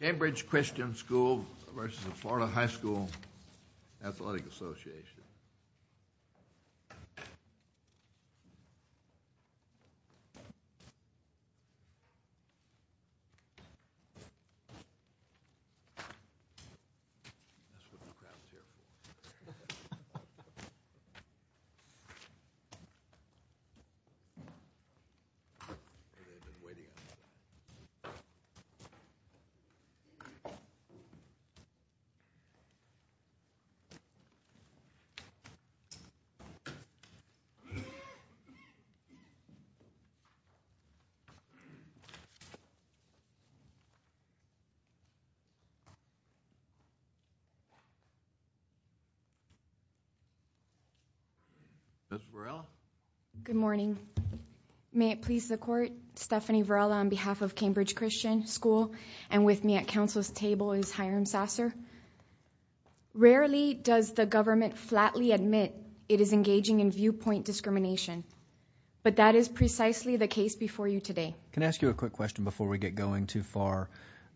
Cambridge Christian School v. Florida High School Athletic Association Stephanie Varela on behalf of Cambridge Christian School and with me at Council's table is Hiram Sasser. Rarely does the government flatly admit it is engaging in viewpoint discrimination, but that is precisely the case before you today. Can I ask you a quick question before we get going too far?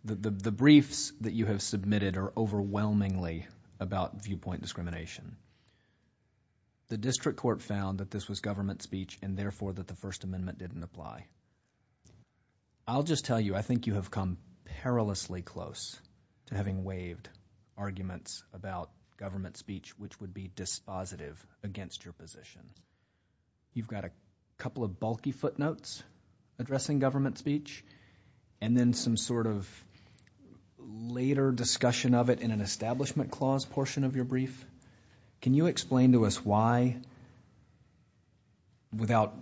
The briefs that you have submitted are overwhelmingly about viewpoint discrimination. The District Court found that this was government speech and therefore that the First Amendment didn't apply. I'll just tell you, I think you have come perilously close to having waived arguments about government speech which would be dispositive against your position. You've got a couple of bulky footnotes addressing government speech and then some sort of later discussion of it in an Establishment Clause portion of your brief. Can you explain to us why, without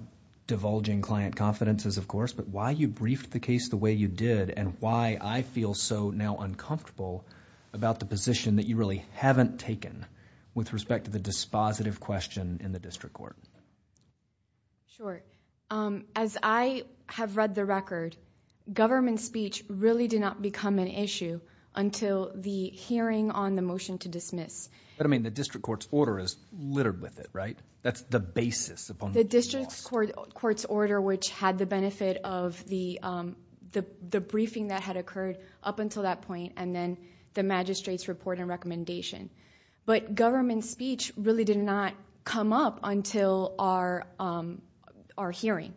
divulging client confidences of course, but why you briefed the case the way you did and why I feel so now uncomfortable about the position that you really haven't taken with respect to the dispositive question in the District Court? Sure. As I have read the record, government speech really did not become an issue until the hearing on the motion to dismiss. But I mean the District Court's order is littered with it, right? That's the basis upon which it was. The District Court's order which had the benefit of the briefing that had occurred up until that point and then the magistrate's report and recommendation. But government speech really did not come up until our hearing.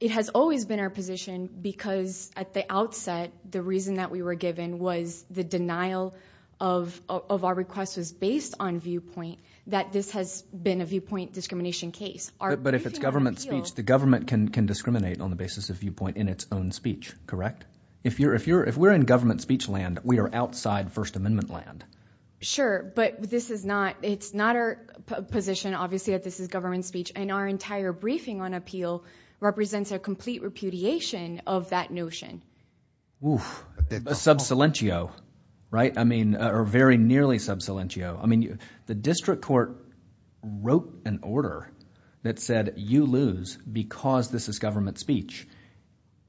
It has always been our position because at the outset the reason that we were given was the denial of our request was based on viewpoint that this has been a viewpoint discrimination case. But if it's government speech, the government can discriminate on the basis of viewpoint in its own speech, correct? If we're in government speech land, we are outside First Amendment land. Sure. But this is not – it's not our position obviously that this is government speech and our entire briefing on appeal represents a complete repudiation of that notion. Sub silentio, right? I mean – or very nearly sub silentio. I mean the District Court wrote an order that said you lose because this is government speech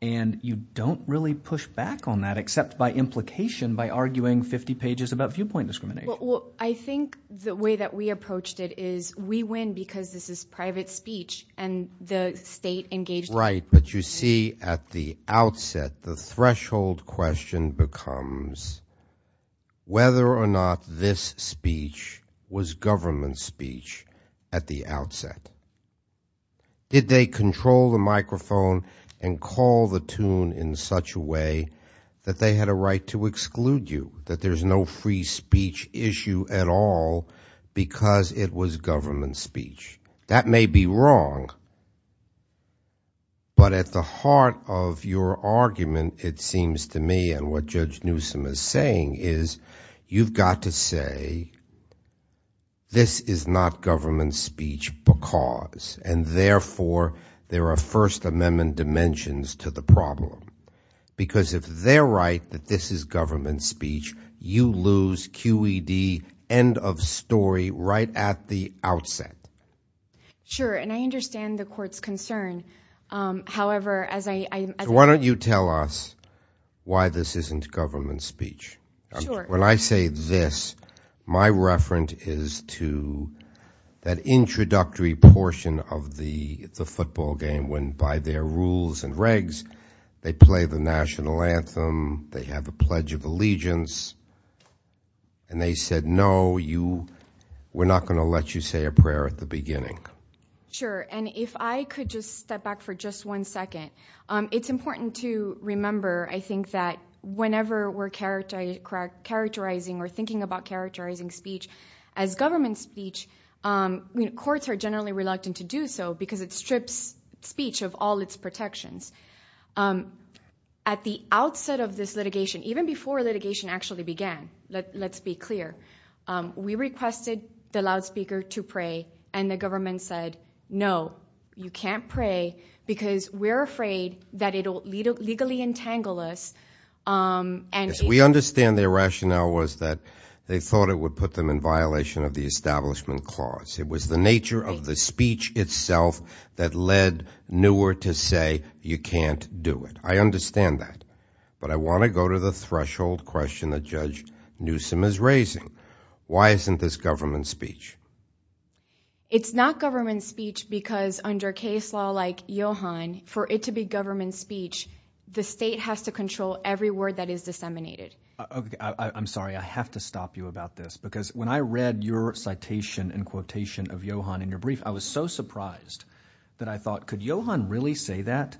and you don't really push back on that except by implication by arguing 50 pages about viewpoint discrimination. Well, I think the way that we approached it is we win because this is private speech and the state engaged – Right. But you see at the outset the threshold question becomes whether or not this speech was government speech at the outset. Did they control the microphone and call the tune in such a way that they had a right to exclude you, that there's no free speech issue at all because it was government speech? That may be wrong but at the heart of your argument it seems to me and what Judge Newsom is saying is you've got to say this is not government speech because and therefore there are First Amendment dimensions to the problem because if they're right that this is government speech, you lose QED end of story right at the outset. Sure, and I understand the court's concern. However, as I – So why don't you tell us why this isn't government speech? Sure. When I say this, my reference is to that introductory portion of the football game when by their allegiance and they said no, we're not going to let you say a prayer at the beginning. Sure, and if I could just step back for just one second, it's important to remember I think that whenever we're characterizing or thinking about characterizing speech as government speech, courts are generally reluctant to do so because it strips speech of all its protections. At the outset of this litigation, even before litigation actually began, let's be clear. We requested the loudspeaker to pray and the government said no, you can't pray because we're afraid that it will legally entangle us and – We understand their rationale was that they thought it would put them in violation of the establishment clause. It was the nature of the speech itself that led Neuer to say you can't do it. I understand that, but I want to go to the threshold question that Judge Newsom is raising. Why isn't this government speech? It's not government speech because under case law like Johan, for it to be government speech, the state has to control every word that is disseminated. I'm sorry. I have to stop you about this because when I read your citation and quotation of Johan in your brief, I was so surprised that I thought could Johan really say that?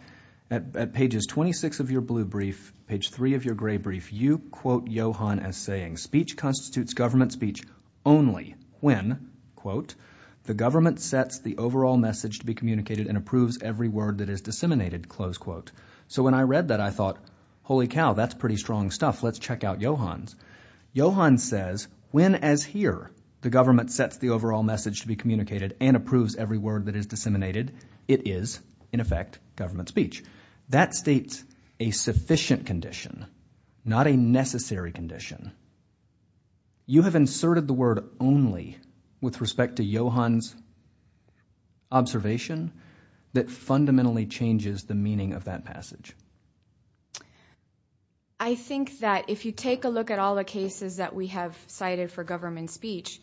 At pages 26 of your blue brief, page 3 of your gray brief, you quote Johan as saying speech constitutes government speech only when, quote, the government sets the overall message to be communicated and approves every word that is disseminated, close quote. So when I read that, I thought holy cow, that's pretty strong stuff. Let's check out Johan's. Johan says when as here the government sets the overall message to be communicated and approves every word that is disseminated, it is in effect government speech. That states a sufficient condition, not a necessary condition. You have inserted the word only with respect to Johan's observation that fundamentally changes the meaning of that passage. I think that if you take a look at all the cases that we have cited for government speech,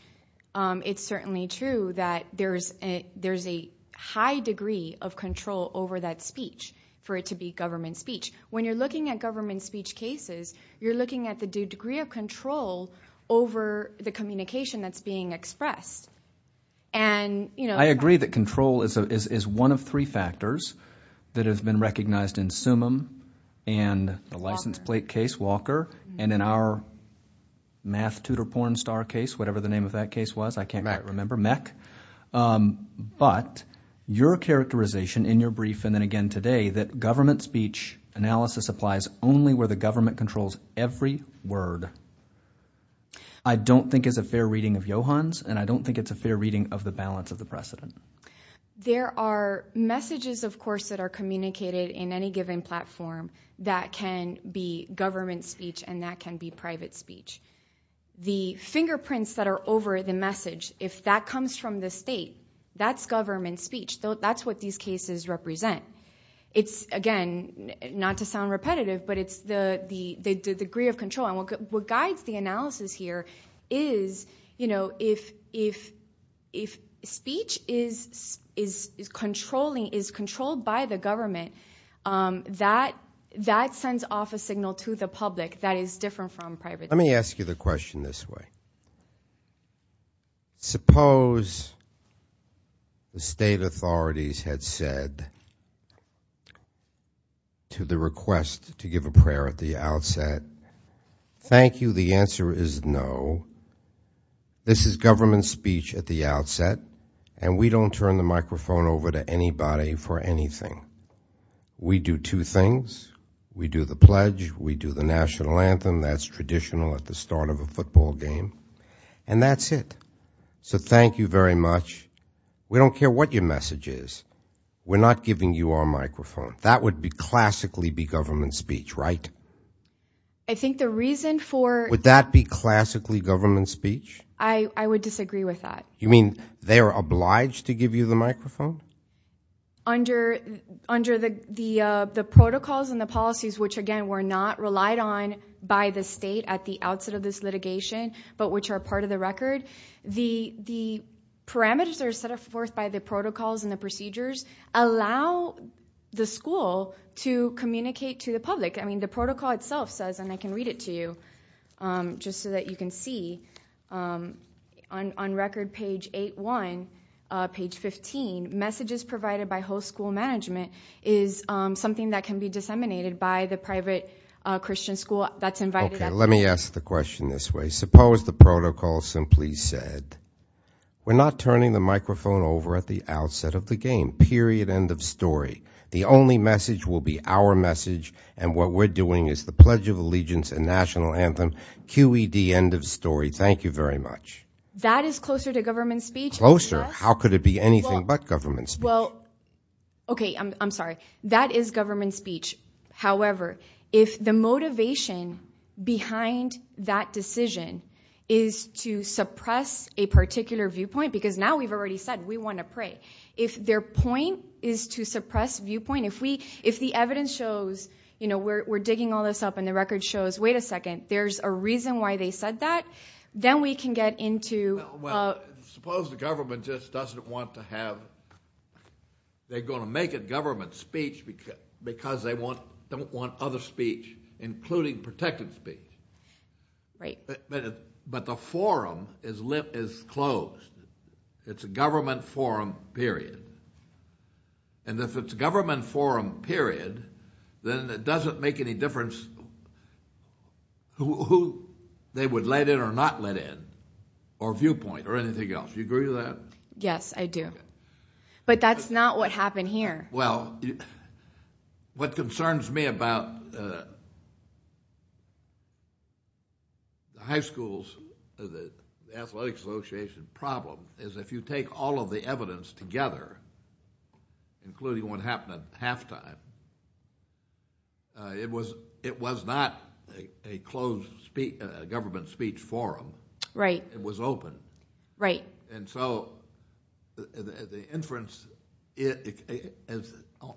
it's certainly true that there's a high degree of control over that speech for it to be government speech. When you're looking at government speech cases, you're looking at the degree of control over the communication that's being expressed. I agree that control is one of three factors that has been recognized in Summum and the license plate case, Walker, and in our math tutor porn star case, whatever the name of that case was. I can't quite remember. Mech. But your characterization in your brief and then again today that government speech analysis applies only where the government controls every word I don't think is a fair reading of the balance of the precedent. There are messages of course that are communicated in any given platform that can be government speech and that can be private speech. The fingerprints that are over the message, if that comes from the state, that's government speech. That's what these cases represent. It's again, not to sound repetitive, but it's the degree of control. What guides the analysis here is if speech is controlled by the government, that sends off a signal to the public that is different from private speech. Let me ask you the question this way. Suppose the state authorities had said to the request to give a prayer at the outset, thank you, the answer is no. This is government speech at the outset and we don't turn the microphone over to anybody for anything. We do two things. We do the pledge. We do the national anthem. That's traditional at the start of a football game. That's it. Thank you very much. We don't care what your message is. We're not giving you our microphone. That would classically be government speech, right? I think the reason for- Would that be classically government speech? I would disagree with that. You mean they are obliged to give you the microphone? Under the protocols and the policies, which again were not relied on by the state at the outset of this litigation but which are part of the record, the parameters that are set forth by the protocols and the procedures allow the school to communicate to the public. The protocol itself says, and I can read it to you just so that you can see, on record page 8-1, page 15, messages provided by host school management is something that can be disseminated by the private Christian school that's invited- Okay. Let me ask the question this way. Suppose the protocol simply said, we're not turning the microphone over at the outset of the game. Period. End of story. The only message will be our message, and what we're doing is the Pledge of Allegiance and national anthem. QED. End of story. Thank you very much. That is closer to government speech. Closer? How could it be anything but government speech? Well, okay. I'm sorry. That is government speech. However, if the motivation behind that decision is to suppress a particular viewpoint, because now we've already said we want to pray. If their point is to suppress viewpoint, if the evidence shows we're digging all this up and the record shows, wait a second, there's a reason why they said that, then we can get into- Well, suppose the government just doesn't want to have... They're going to make it government speech because they don't want other speech, including protected speech. Right. But the forum is closed. It's a government forum, period. If it's a government forum, period, then it doesn't make any difference who they would let in or not let in, or viewpoint, or anything else. Do you agree with that? Yes, I do. But that's not what happened here. Well, what concerns me about the high schools, the Athletic Association problem, is if you take all of the evidence together, including what happened at halftime, it was not a closed government speech forum. Right. It was open. Right. The inference,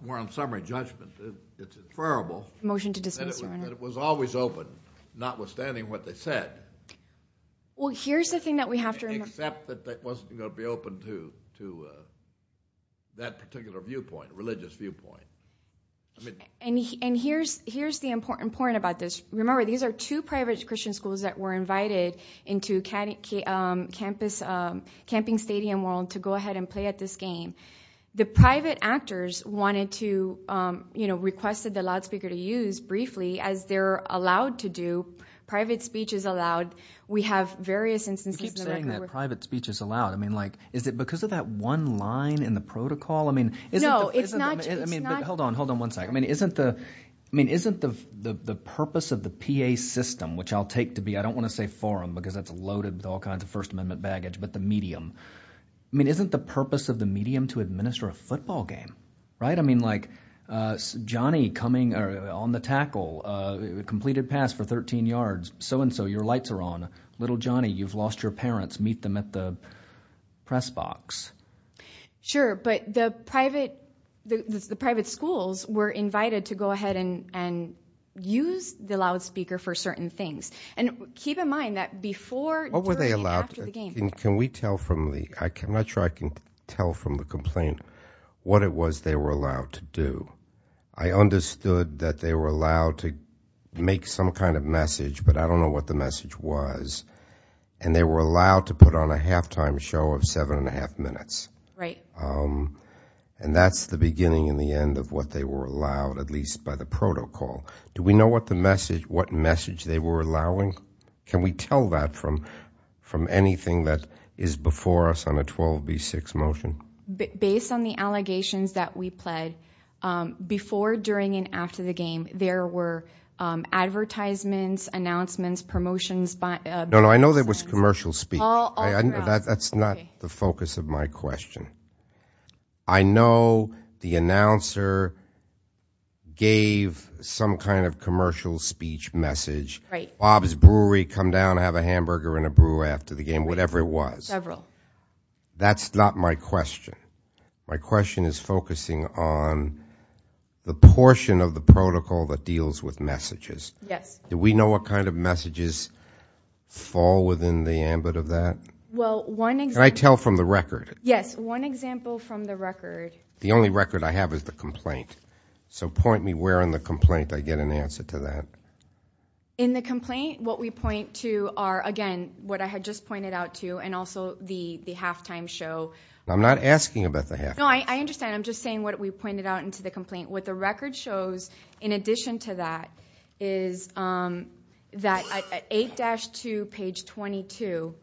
more on summary judgment, it's inferrable- Motion to dismiss, Your Honor.... that it was always open, notwithstanding what they said. Well, here's the thing that we have to remember- Except that it wasn't going to be open to that particular viewpoint, religious viewpoint. Here's the important point about this. Remember, these are two private Christian schools that were invited into Camping Stadium World to go ahead and play at this game. The private actors wanted to, requested the loudspeaker to use, briefly, as they're allowed to do, private speech is allowed. We have various instances- You keep saying that private speech is allowed. Is it because of that one line in the protocol? No, it's not- Hold on, hold on one second. I mean, isn't the purpose of the PA system, which I'll take to be, I don't want to say forum because that's loaded with all kinds of First Amendment baggage, but the medium. I mean, isn't the purpose of the medium to administer a football game, right? I mean, like Johnny coming on the tackle, completed pass for 13 yards, so-and-so, your lights are on, little Johnny, you've lost your parents, meet them at the press box. Sure, but the private schools were invited to go ahead and use the loudspeaker for certain things, and keep in mind that before- What were they allowed to do? Can we tell from the, I'm not sure I can tell from the complaint, what it was they were allowed to do. I understood that they were allowed to make some kind of message, but I don't know what the message was, and they were allowed to put on a halftime show of seven and a half minutes. Right. And that's the beginning and the end of what they were allowed, at least by the protocol. Do we know what message they were allowing? Can we tell that from anything that is before us on a 12v6 motion? Based on the allegations that we pled, before, during, and after the game, there were advertisements, announcements, promotions- No, no, I know there was commercial speech. All around. That's not the focus of my question. I know the announcer gave some kind of commercial speech message, Bob's Brewery, come down, have a hamburger and a brew after the game, whatever it was. Several. That's not my question. My question is focusing on the portion of the protocol that deals with messages. Yes. Do we know what kind of messages fall within the ambit of that? Well, one example- Can I tell from the record? Yes. One example from the record. The only record I have is the complaint. So point me where in the complaint I get an answer to that. In the complaint, what we point to are, again, what I had just pointed out to you, and also the halftime show. I'm not asking about the halftime show. No, I understand. I'm just saying what we pointed out into the complaint. What the record shows, in addition to that, is that at 8-2, page 22,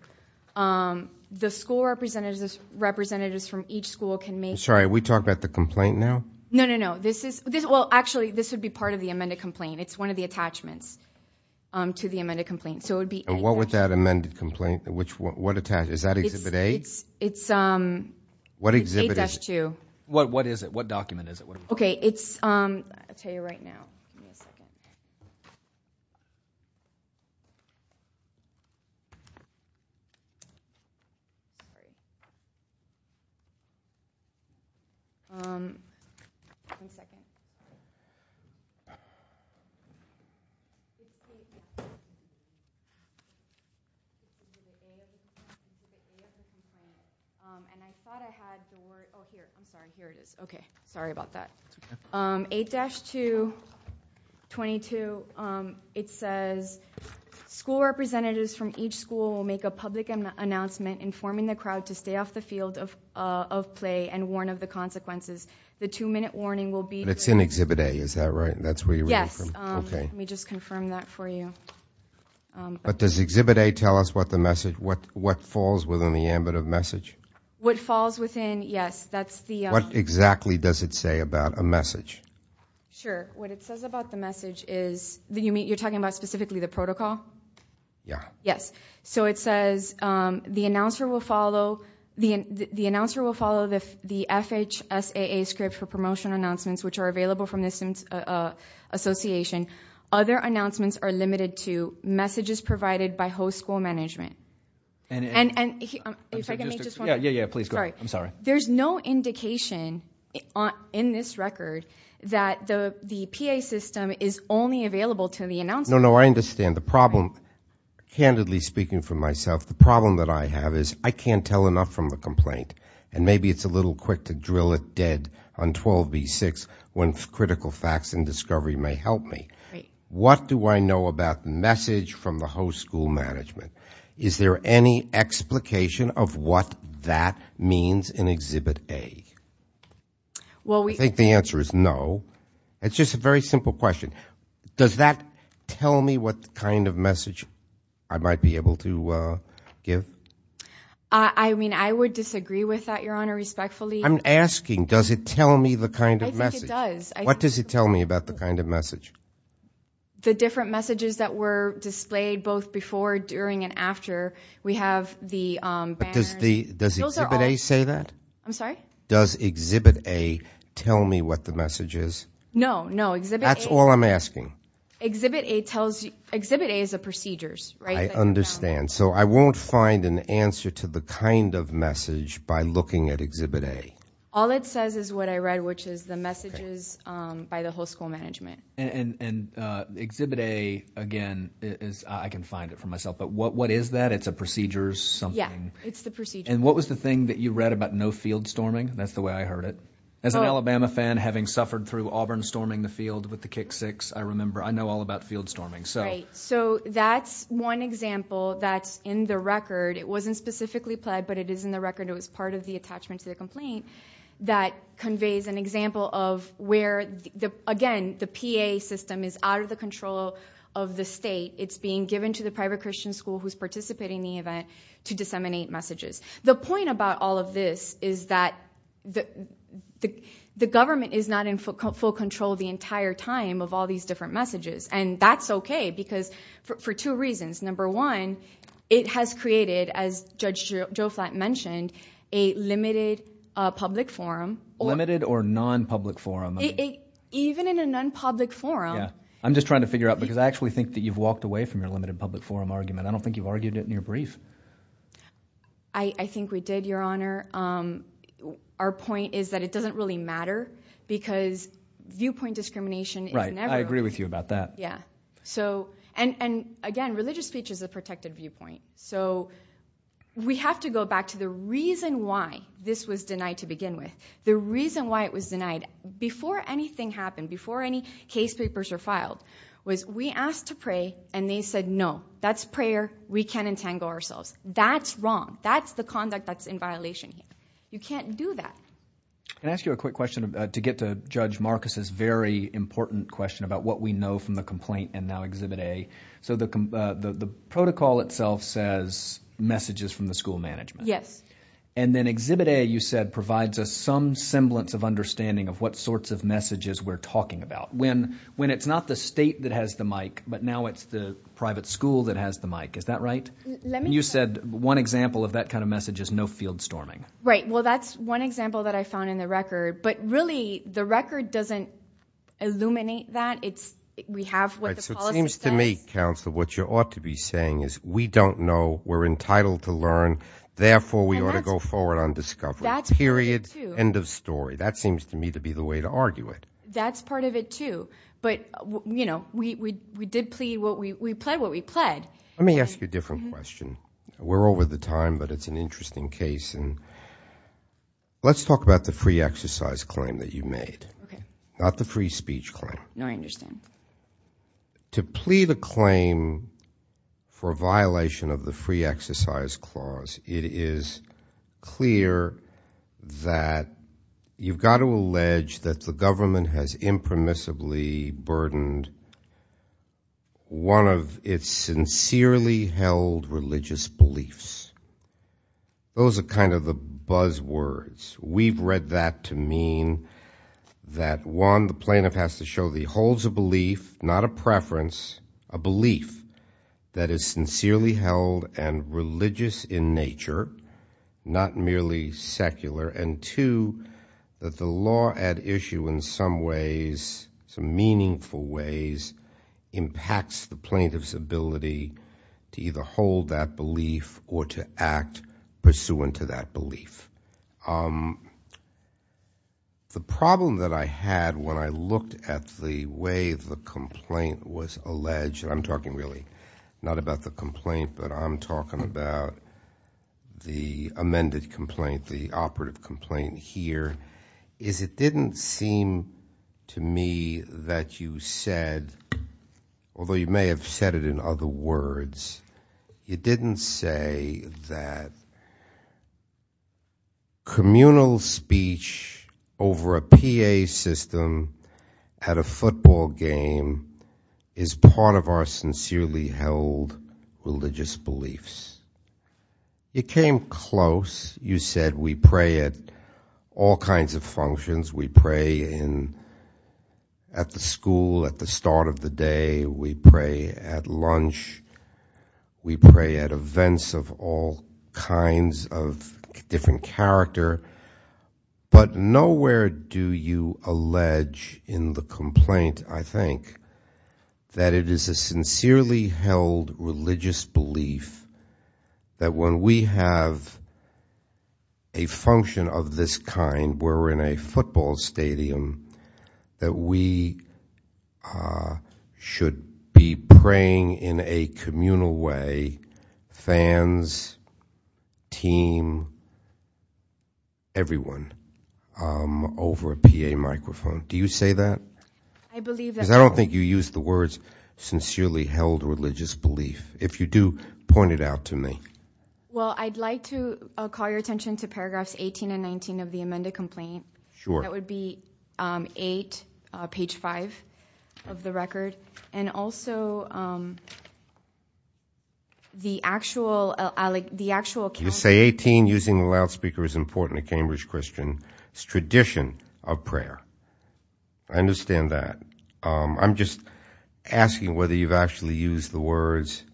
the school representatives from each school can make- I'm sorry. Are we talking about the complaint now? No, no, no. This is- Well, actually, this would be part of the amended complaint. It's one of the attachments to the amended complaint. So it would be- And what would that amended complaint- Is that exhibit A? It's 8-2. What is it? What document is it? Okay, it's- I'll tell you right now. Give me a second. One second. And I thought I had the word- Oh, here. I'm sorry. Oh, here it is. Okay. Sorry about that. That's okay. 8-2, 22, it says, school representatives from each school will make a public announcement informing the crowd to stay off the field of play and warn of the consequences. The two-minute warning will be- But it's in exhibit A. Is that right? That's where you're reading from? Yes. Okay. Let me just confirm that for you. But does exhibit A tell us what falls within the ambit of message? What falls within, yes. That's the- What exactly does it say about a message? Sure. What it says about the message is- You're talking about specifically the protocol? Yeah. Yes. So it says, the announcer will follow the FHSAA script for promotion announcements, which are available from the association. Other announcements are limited to messages provided by host school management. And- And- If I can make just one- Yeah, yeah, yeah. Please go ahead. I'm sorry. There's no indication in this record that the PA system is only available to the announcers. No, no, I understand. The problem- Right. Candidly speaking for myself, the problem that I have is I can't tell enough from the complaint. And maybe it's a little quick to drill it dead on 12b6 when critical facts and discovery may help me. Right. What do I know about the message from the host school management? Is there any explication of what that means in Exhibit A? Well, we- I think the answer is no. It's just a very simple question. Does that tell me what kind of message I might be able to give? I mean, I would disagree with that, Your Honor, respectfully. I'm asking, does it tell me the kind of message? What does it tell me about the kind of message? The different messages that were displayed both before, during, and after. We have the banners- But does Exhibit A say that? I'm sorry? Does Exhibit A tell me what the message is? No, no. Exhibit A- That's all I'm asking. Exhibit A is the procedures, right? I understand. So I won't find an answer to the kind of message by looking at Exhibit A. All it says is what I read, which is the messages by the host school management. And Exhibit A, again, is- I can find it for myself. But what is that? It's a procedures something. Yeah, it's the procedures. And what was the thing that you read about no field storming? That's the way I heard it. As an Alabama fan, having suffered through Auburn storming the field with the kick six, I remember- I know all about field storming. Right. So that's one example that's in the record. It wasn't specifically pled, but it is in the record. It was part of the attachment to the complaint that conveys an example of where, again, the PA system is out of the control of the state. It's being given to the private Christian school who's participating in the event to disseminate messages. The point about all of this is that the government is not in full control the entire time of all these different messages. And that's okay because for two reasons. Number one, it has created, as Judge Joe Flatt mentioned, a limited public forum. Limited or non-public forum? Even in a non-public forum- I'm just trying to figure out because I actually think that you've walked away from your limited public forum argument. I don't think you've argued it in your brief. I think we did, Your Honor. Our point is that it doesn't really matter because viewpoint discrimination is never- Right. I agree with you about that. Yeah. And, again, religious speech is a protected viewpoint. So we have to go back to the reason why this was denied to begin with. The reason why it was denied, before anything happened, before any case papers were filed, was we asked to pray and they said, no, that's prayer. We can't entangle ourselves. That's wrong. That's the conduct that's in violation here. You can't do that. Can I ask you a quick question to get to Judge Marcus's very important question about what we know from the complaint and now Exhibit A? So the protocol itself says messages from the school management. Yes. And then Exhibit A, you said, provides us some semblance of understanding of what sorts of messages we're talking about. When it's not the state that has the mic, but now it's the private school that has the mic. Is that right? You said one example of that kind of message is no field storming. Right. Well, that's one example that I found in the record. But, really, the record doesn't illuminate that. We have what the policy says. So it seems to me, Counselor, what you ought to be saying is we don't know. We're entitled to learn. Therefore, we ought to go forward on discovery. Period. End of story. That seems to me to be the way to argue it. That's part of it, too. But, you know, we did plead what we pled what we pled. Let me ask you a different question. We're over the time, but it's an interesting case. Let's talk about the free exercise claim that you made, not the free speech claim. No, I understand. To plead a claim for violation of the free exercise clause, it is clear that you've got to allege that the government has impermissibly burdened one of its sincerely held religious beliefs. Those are kind of the buzz words. We've read that to mean that, one, the plaintiff has to show that he holds a belief, not a preference, a belief that is sincerely held and religious in nature, not merely secular, and, two, that the law at issue in some ways, some meaningful ways, impacts the plaintiff's ability to either hold that belief or to act pursuant to that belief. The problem that I had when I looked at the way the complaint was alleged, and I'm talking really not about the complaint, but I'm talking about the amended complaint, the operative complaint here, is it didn't seem to me that you said, although you may have said it in other words, you didn't say that communal speech over a PA system at a football game is part of our sincerely held religious beliefs. It came close. You said we pray at all kinds of functions. We pray at the school at the start of the day. We pray at lunch. We pray at events of all kinds of different character. But nowhere do you allege in the complaint, I think, that it is a sincerely held religious belief that when we have a function of this kind where we're in a football stadium, that we should be praying in a communal way, fans, team, everyone, over a PA microphone. Do you say that? I believe that. Because I don't think you used the words sincerely held religious belief. If you do, point it out to me. Well, I'd like to call your attention to paragraphs 18 and 19 of the amended complaint. Sure. That would be 8, page 5 of the record. And also, the actual account. You say 18, using a loudspeaker is important to Cambridge Christian tradition of prayer. I understand that. I'm just asking whether you've actually used the words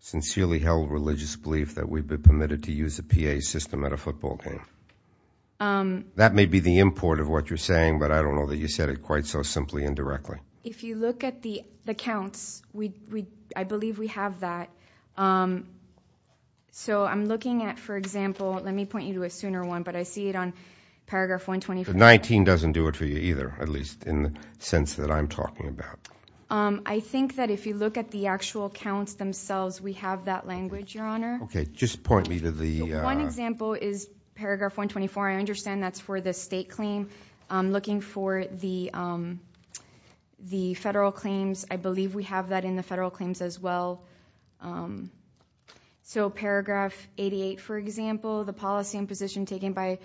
sincerely held religious belief that we've been permitted to use a PA system at a football game. That may be the import of what you're saying, but I don't know that you said it quite so simply and directly. If you look at the accounts, I believe we have that. So I'm looking at, for example, let me point you to a sooner one, but I see it on paragraph 125. But 19 doesn't do it for you either, at least in the sense that I'm talking about. I think that if you look at the actual accounts themselves, we have that language, Your Honor. Okay, just point me to the— For example, is paragraph 124. I understand that's for the state claim. I'm looking for the federal claims. I believe we have that in the federal claims as well. So paragraph 88, for example, the policy and position taken by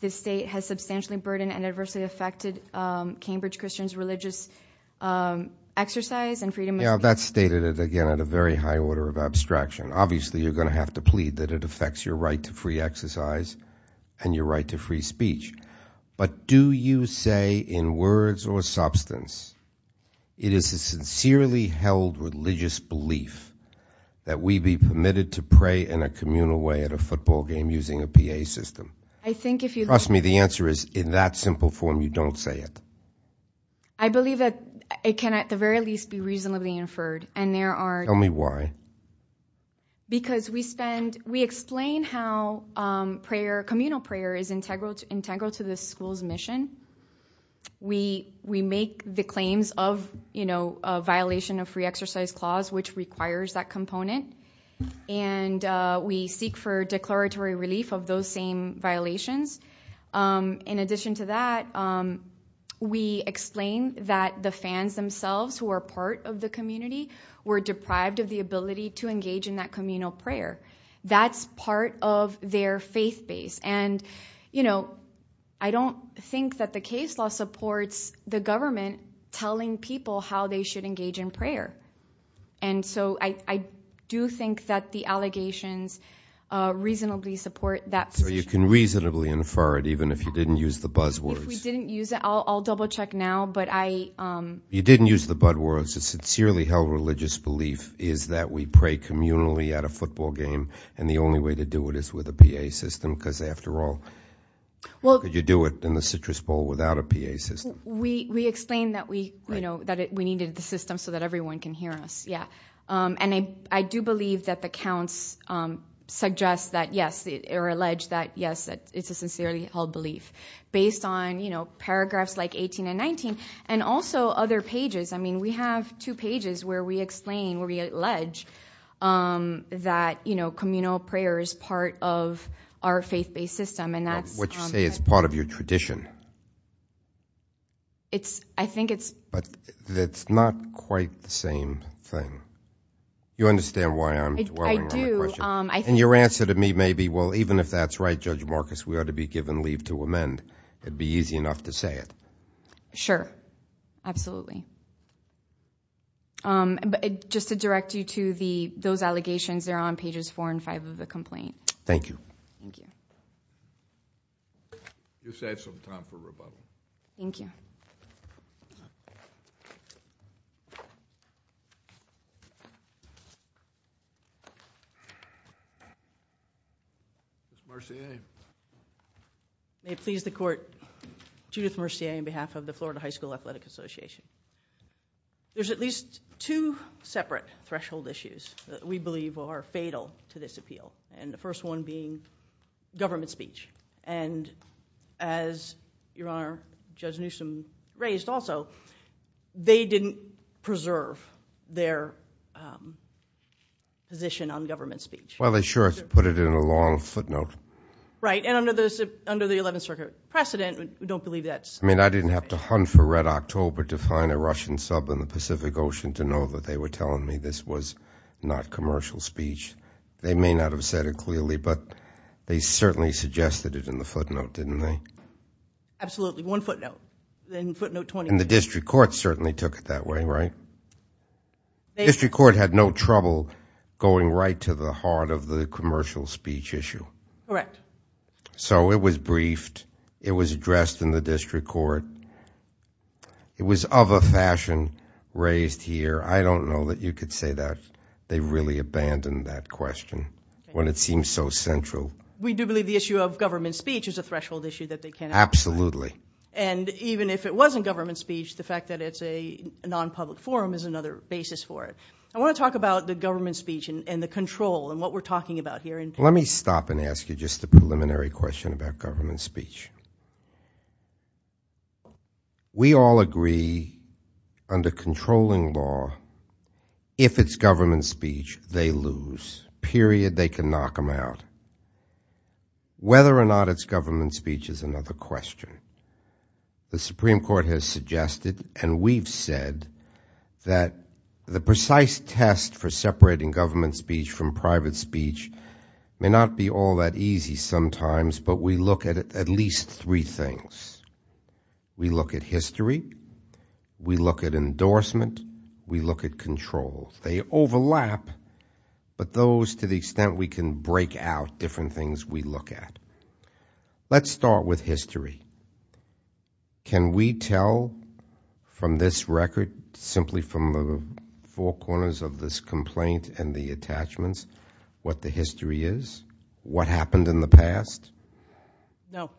the state has substantially burdened and adversely affected Cambridge Christian's religious exercise and freedom of speech. Yeah, that's stated, again, at a very high order of abstraction. Obviously, you're going to have to plead that it affects your right to free exercise and your right to free speech. But do you say in words or substance it is a sincerely held religious belief that we be permitted to pray in a communal way at a football game using a PA system? I think if you— Trust me, the answer is in that simple form you don't say it. I believe that it can at the very least be reasonably inferred, and there are— Tell me why. Because we spend—we explain how prayer, communal prayer, is integral to the school's mission. We make the claims of a violation of free exercise clause, which requires that component, and we seek for declaratory relief of those same violations. In addition to that, we explain that the fans themselves who are part of the community were deprived of the ability to engage in that communal prayer. That's part of their faith base. And I don't think that the case law supports the government telling people how they should engage in prayer. And so I do think that the allegations reasonably support that position. So you can reasonably infer it even if you didn't use the buzzwords? If we didn't use it, I'll double-check now, but I— You didn't use the buzzwords. It's a sincerely held religious belief is that we pray communally at a football game, and the only way to do it is with a PA system because, after all, how could you do it in the Citrus Bowl without a PA system? We explained that we needed the system so that everyone can hear us, yeah. And I do believe that the counts suggest that, yes, or allege that, yes, it's a sincerely held belief based on paragraphs like 18 and 19 and also other pages. I mean we have two pages where we explain, where we allege that communal prayer is part of our faith-based system. What you say is part of your tradition. I think it's— But it's not quite the same thing. You understand why I'm dwelling on the question? I do. And your answer to me may be, well, even if that's right, Judge Marcus, we ought to be given leave to amend. It would be easy enough to say it. Sure, absolutely. Just to direct you to those allegations, they're on pages four and five of the complaint. Thank you. Thank you. You saved some time for rebuttal. Thank you. Ms. Mercier. May it please the Court, Judith Mercier on behalf of the Florida High School Athletic Association. There's at least two separate threshold issues that we believe are fatal to this appeal, and the first one being government speech. And as your Honor, Judge Newsom raised also, they didn't preserve their position on government speech. Well, they sure put it in a long footnote. Right, and under the Eleventh Circuit precedent, we don't believe that's— I mean, I didn't have to hunt for Red October to find a Russian sub in the Pacific Ocean to know that they were telling me this was not commercial speech. They may not have said it clearly, but they certainly suggested it in the footnote, didn't they? Absolutely. One footnote. Then footnote 20. And the district court certainly took it that way, right? The district court had no trouble going right to the heart of the commercial speech issue. Correct. So it was briefed. It was addressed in the district court. It was of a fashion raised here. I don't know that you could say that. They really abandoned that question when it seemed so central. We do believe the issue of government speech is a threshold issue that they cannot address. Absolutely. And even if it wasn't government speech, the fact that it's a non-public forum is another basis for it. I want to talk about the government speech and the control and what we're talking about here. Let me stop and ask you just a preliminary question about government speech. We all agree under controlling law, if it's government speech, they lose, period. They can knock them out. Whether or not it's government speech is another question. The Supreme Court has suggested and we've said that the precise test for separating government speech from private speech may not be all that easy sometimes, but we look at at least three things. We look at history. We look at endorsement. We look at control. They overlap, but those to the extent we can break out different things we look at. Let's start with history. Can we tell from this record simply from the four corners of this complaint and the attachments what the history is? What happened in the past? No,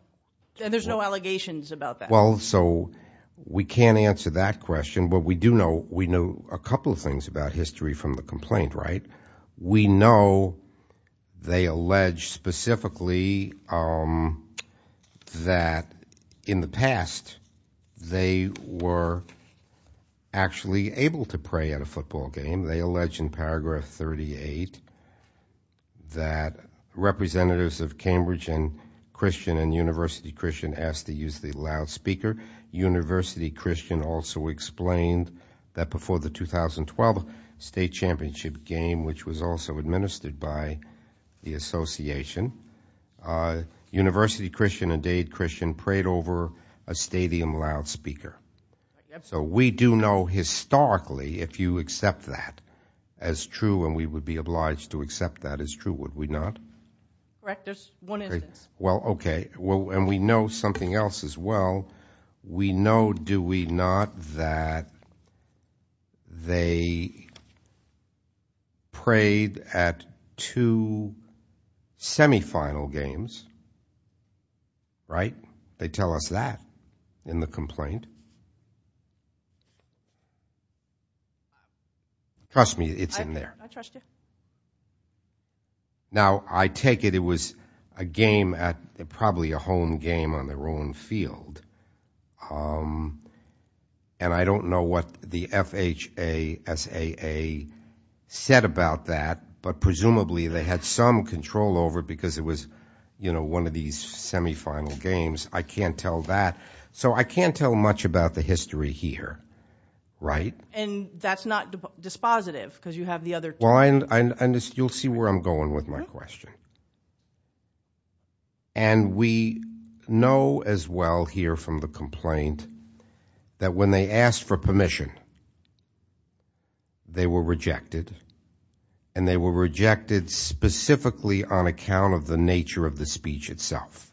and there's no allegations about that. Well, so we can't answer that question, but we do know a couple of things about history from the complaint, right? We know they allege specifically that in the past they were actually able to pray at a football game. They allege in paragraph 38 that representatives of Cambridge and Christian and University Christian asked to use the loudspeaker. University Christian also explained that before the 2012 state championship game, which was also administered by the association, University Christian and Dade Christian prayed over a stadium loudspeaker. So we do know historically if you accept that as true and we would be obliged to accept that as true, would we not? Correct. There's one instance. Well, okay, and we know something else as well. We know, do we not, that they prayed at two semifinal games, right? They tell us that in the complaint. Trust me, it's in there. I trust you. Now, I take it it was a game at probably a home game on their own field, and I don't know what the FHASAA said about that, but presumably they had some control over it because it was one of these semifinal games. I can't tell that. So I can't tell much about the history here, right? And that's not dispositive because you have the other two. You'll see where I'm going with my question. And we know as well here from the complaint that when they asked for permission, they were rejected, and they were rejected specifically on account of the nature of the speech itself.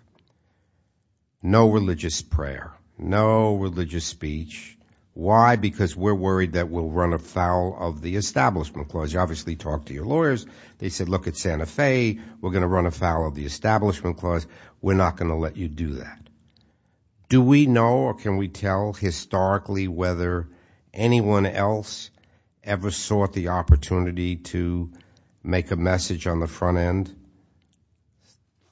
No religious prayer. No religious speech. Why? Why? Because we're worried that we'll run afoul of the Establishment Clause. You obviously talked to your lawyers. They said, look at Santa Fe. We're going to run afoul of the Establishment Clause. We're not going to let you do that. Do we know or can we tell historically whether anyone else ever sought the opportunity to make a message on the front end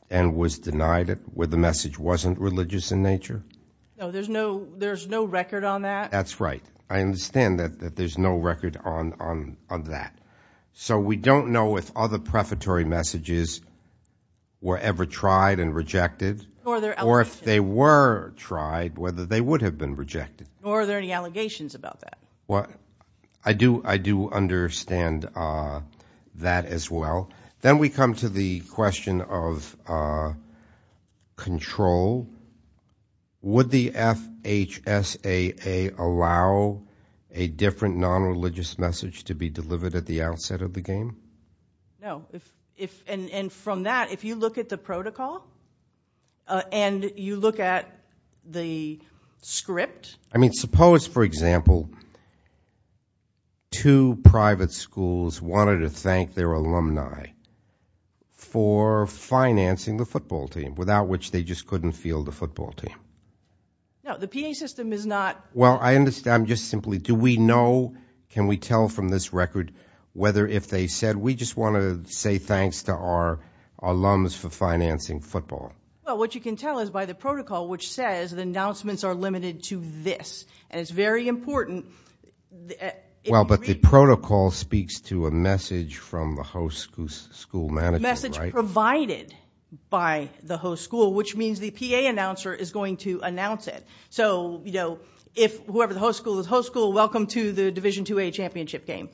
and was denied it where the message wasn't religious in nature? No, there's no record on that. That's right. I understand that there's no record on that. So we don't know if other prefatory messages were ever tried and rejected or if they were tried, whether they would have been rejected. Are there any allegations about that? I do understand that as well. Then we come to the question of control. Would the FHSAA allow a different nonreligious message to be delivered at the outset of the game? No. And from that, if you look at the protocol and you look at the script. I mean suppose, for example, two private schools wanted to thank their alumni for financing the football team, without which they just couldn't field a football team. No, the PA system is not. Well, I'm just simply, do we know, can we tell from this record whether if they said, we just want to say thanks to our alums for financing football? Well, what you can tell is by the protocol, which says the announcements are limited to this. And it's very important. Well, but the protocol speaks to a message from the host school manager, right? Provided by the host school, which means the PA announcer is going to announce it. So, you know, whoever the host school is, host school, welcome to the Division II-A championship game.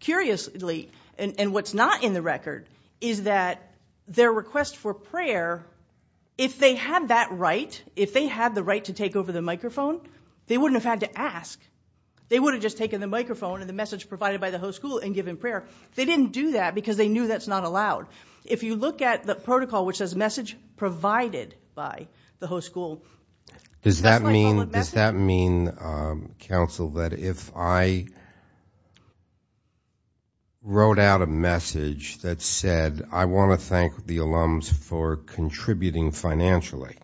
Curiously, and what's not in the record, is that their request for prayer, if they had that right, if they had the right to take over the microphone, they wouldn't have had to ask. They would have just taken the microphone and the message provided by the host school and given prayer. They didn't do that because they knew that's not allowed. If you look at the protocol, which says message provided by the host school. Does that mean, counsel, that if I wrote out a message that said, I want to thank the alums for contributing financially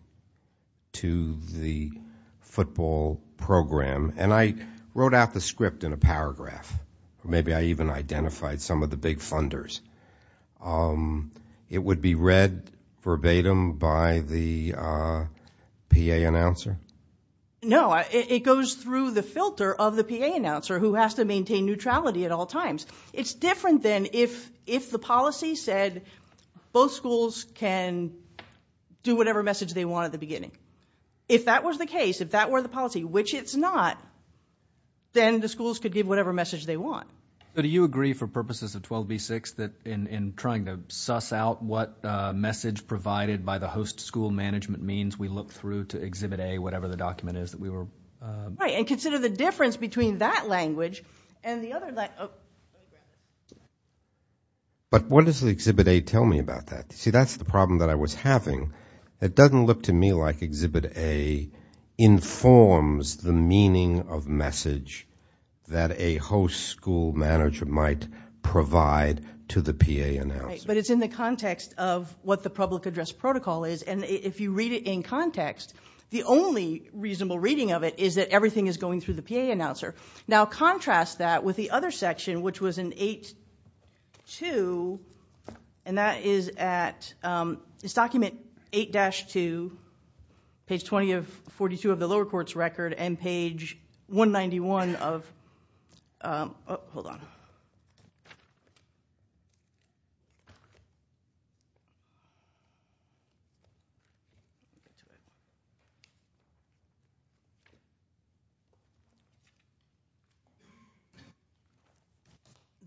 to the football program, and I wrote out the script in a paragraph, maybe I even identified some of the big funders, it would be read verbatim by the PA announcer? No, it goes through the filter of the PA announcer, who has to maintain neutrality at all times. It's different than if the policy said both schools can do whatever message they want at the beginning. If that was the case, if that were the policy, which it's not, then the schools could give whatever message they want. Do you agree for purposes of 12b-6 that in trying to suss out what message provided by the host school management means, we look through to exhibit A, whatever the document is that we were... Right, and consider the difference between that language and the other... But what does exhibit A tell me about that? See, that's the problem that I was having. It doesn't look to me like exhibit A informs the meaning of message that a host school manager might provide to the PA announcer. Right, but it's in the context of what the public address protocol is, and if you read it in context, the only reasonable reading of it is that everything is going through the PA announcer. Now contrast that with the other section, which was in 8-2, and that is at... It's document 8-2, page 42 of the lower court's record, and page 191 of... Hold on.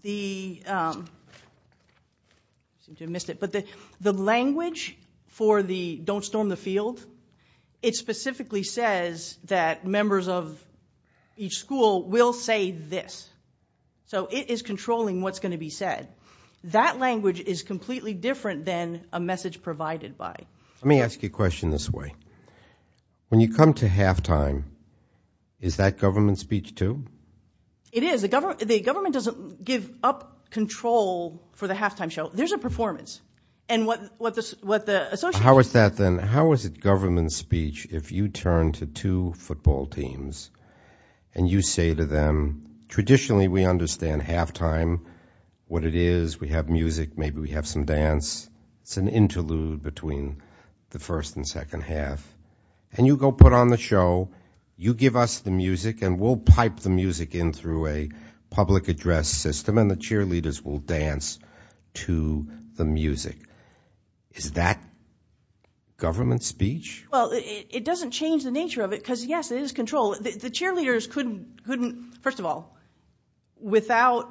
The... I seem to have missed it, but the language for the don't storm the field, it specifically says that members of each school will say this. So it is controlling what's going to be said. That language is completely different than a message provided by... Let me ask you a question this way. When you come to halftime, is that government speech too? It is. The government doesn't give up control for the halftime show. There's a performance, and what the association... How is that then? How is it government speech if you turn to two football teams and you say to them, traditionally we understand halftime, what it is, we have music, maybe we have some dance, it's an interlude between the first and second half, and you go put on the show, you give us the music, and we'll pipe the music in through a public address system, and the cheerleaders will dance to the music. Is that government speech? Well, it doesn't change the nature of it because, yes, it is control. The cheerleaders couldn't, first of all, without...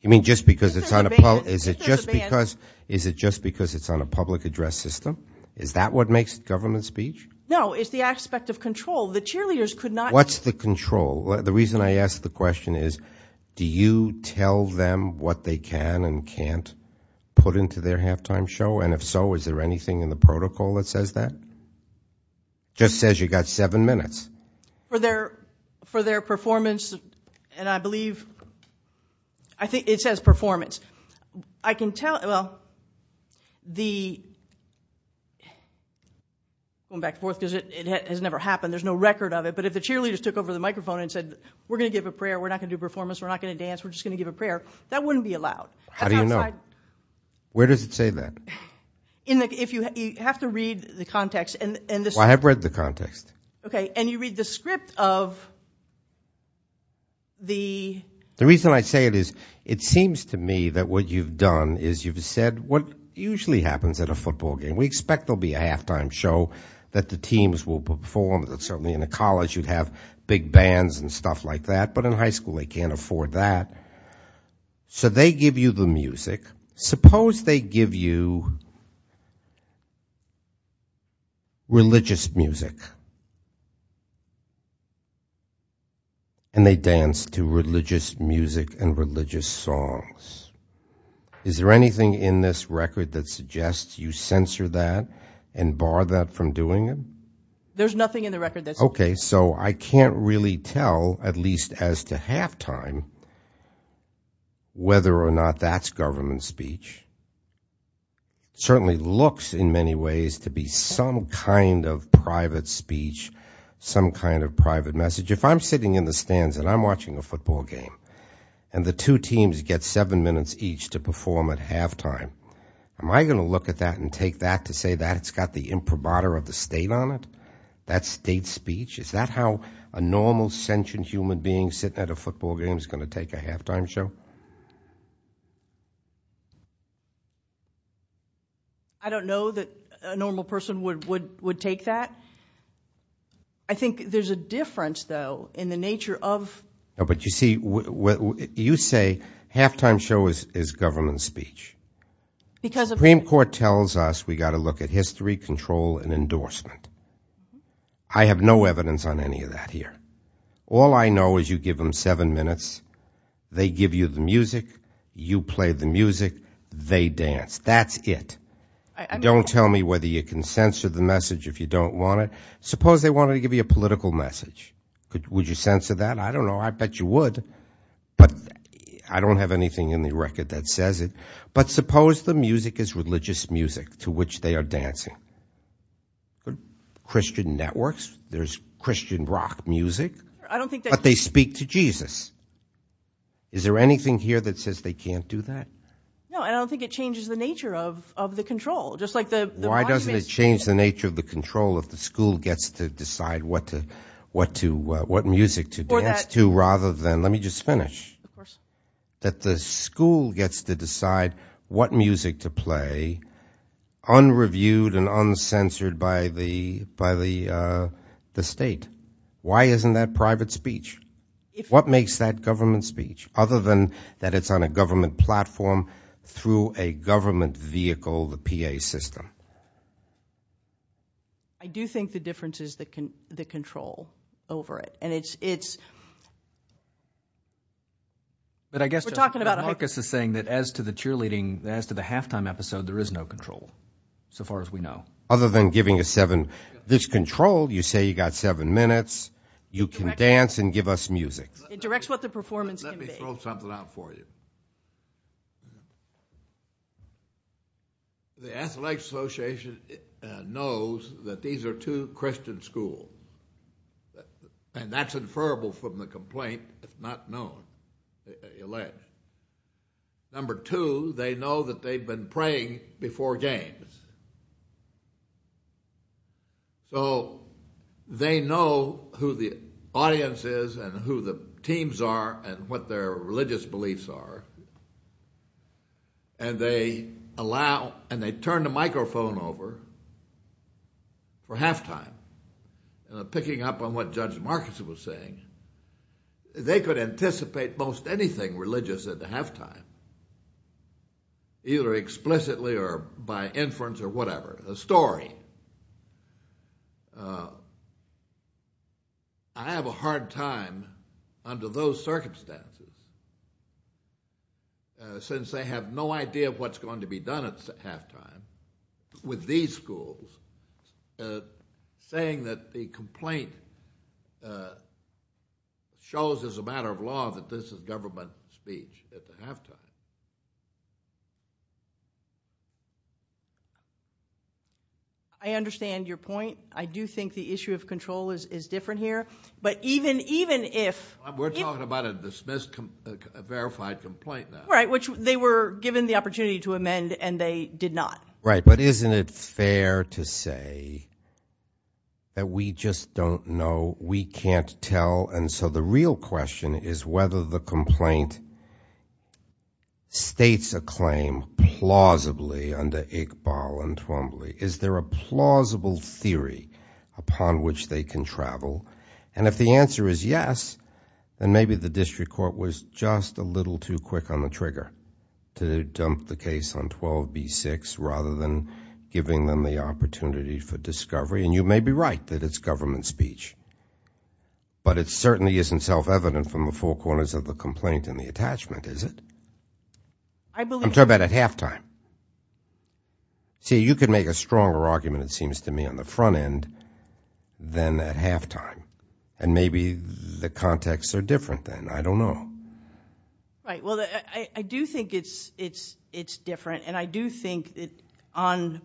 You mean just because it's on a... Is it just because it's on a public address system? Is that what makes it government speech? No, it's the aspect of control. The cheerleaders could not... What's the control? The reason I ask the question is do you tell them what they can and can't put into their halftime show, and if so, is there anything in the protocol that says that? It just says you've got seven minutes. For their performance, and I believe, I think it says performance. I can tell, well, the... Going back and forth because it has never happened. There's no record of it, but if the cheerleaders took over the microphone and said, we're going to give a prayer, we're not going to do a performance, we're not going to dance, we're just going to give a prayer, that wouldn't be allowed. How do you know? Where does it say that? You have to read the context. Well, I have read the context. Okay, and you read the script of the... The reason I say it is it seems to me that what you've done is you've said what usually happens at a football game. We expect there will be a halftime show that the teams will perform, that certainly in a college you'd have big bands and stuff like that, but in high school they can't afford that. So they give you the music. Suppose they give you religious music and they dance to religious music and religious songs. Is there anything in this record that suggests you censor that and bar that from doing it? There's nothing in the record that says... It certainly looks in many ways to be some kind of private speech, some kind of private message. If I'm sitting in the stands and I'm watching a football game and the two teams get seven minutes each to perform at halftime, am I going to look at that and take that to say that it's got the imprimatur of the state on it? That's state speech? Is that how a normal sentient human being sitting at a football game is going to take a halftime show? I don't know that a normal person would take that. I think there's a difference, though, in the nature of... But you see, you say halftime show is government speech. The Supreme Court tells us we've got to look at history, control, and endorsement. I have no evidence on any of that here. All I know is you give them seven minutes. They give you the music. You play the music. They dance. That's it. Don't tell me whether you can censor the message if you don't want it. Suppose they wanted to give you a political message. Would you censor that? I don't know. I bet you would. But I don't have anything in the record that says it. But suppose the music is religious music to which they are dancing. Christian networks, there's Christian rock music. But they speak to Jesus. Is there anything here that says they can't do that? No, and I don't think it changes the nature of the control. Why doesn't it change the nature of the control if the school gets to decide what music to dance to rather than... Let me just finish. Of course. That the school gets to decide what music to play unreviewed and uncensored by the state. Why isn't that private speech? What makes that government speech other than that it's on a government platform through a government vehicle, the PA system? I do think the difference is the control over it. And it's... But I guess Marcus is saying that as to the cheerleading, as to the halftime episode, there is no control so far as we know. Other than giving a seven. There's control. You say you've got seven minutes. You can dance and give us music. It directs what the performance can be. Let me throw something out for you. The Athletics Association knows that these are two Christian schools. And that's inferable from the complaint. It's not known, alleged. Number two, they know that they've been praying before games. So they know who the audience is and who the teams are and what their religious beliefs are. And they allow... And they turn the microphone over for halftime. Picking up on what Judge Marcus was saying. They could anticipate most anything religious at the halftime. Either explicitly or by inference or whatever. A story. I have a hard time under those circumstances. Since they have no idea of what's going to be done at halftime with these schools. Saying that the complaint shows as a matter of law that this is government speech at the halftime. I understand your point. I do think the issue of control is different here. But even if... We're talking about a dismissed verified complaint now. Right. Which they were given the opportunity to amend and they did not. Right. But isn't it fair to say that we just don't know? We can't tell. And so the real question is whether the complaint states a claim plausibly under Iqbal and Twombly. Is there a plausible theory upon which they can travel? And if the answer is yes, then maybe the district court was just a little too quick on the trigger. To dump the case on 12B6 rather than giving them the opportunity for discovery. And you may be right that it's government speech. But it certainly isn't self-evident from the four corners of the complaint and the attachment, is it? I believe... I'm talking about at halftime. See, you can make a stronger argument, it seems to me, on the front end than at halftime. And maybe the contexts are different then. I don't know. Right. Well, I do think it's different. And I do think on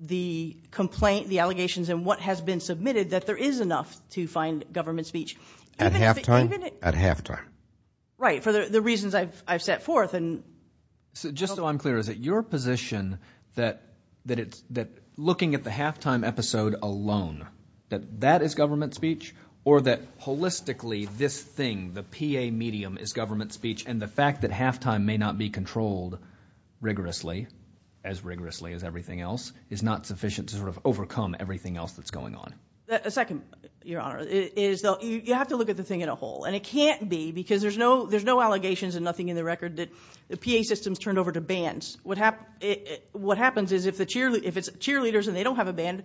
the complaint, the allegations, and what has been submitted, that there is enough to find government speech. At halftime? At halftime. Right. For the reasons I've set forth. Just so I'm clear, is it your position that looking at the halftime episode alone, that that is government speech? Or that holistically this thing, the PA medium, is government speech? And the fact that halftime may not be controlled rigorously, as rigorously as everything else, is not sufficient to sort of overcome everything else that's going on? A second, Your Honor, is you have to look at the thing in a whole. And it can't be because there's no allegations and nothing in the record that the PA system is turned over to bands. What happens is if it's cheerleaders and they don't have a band,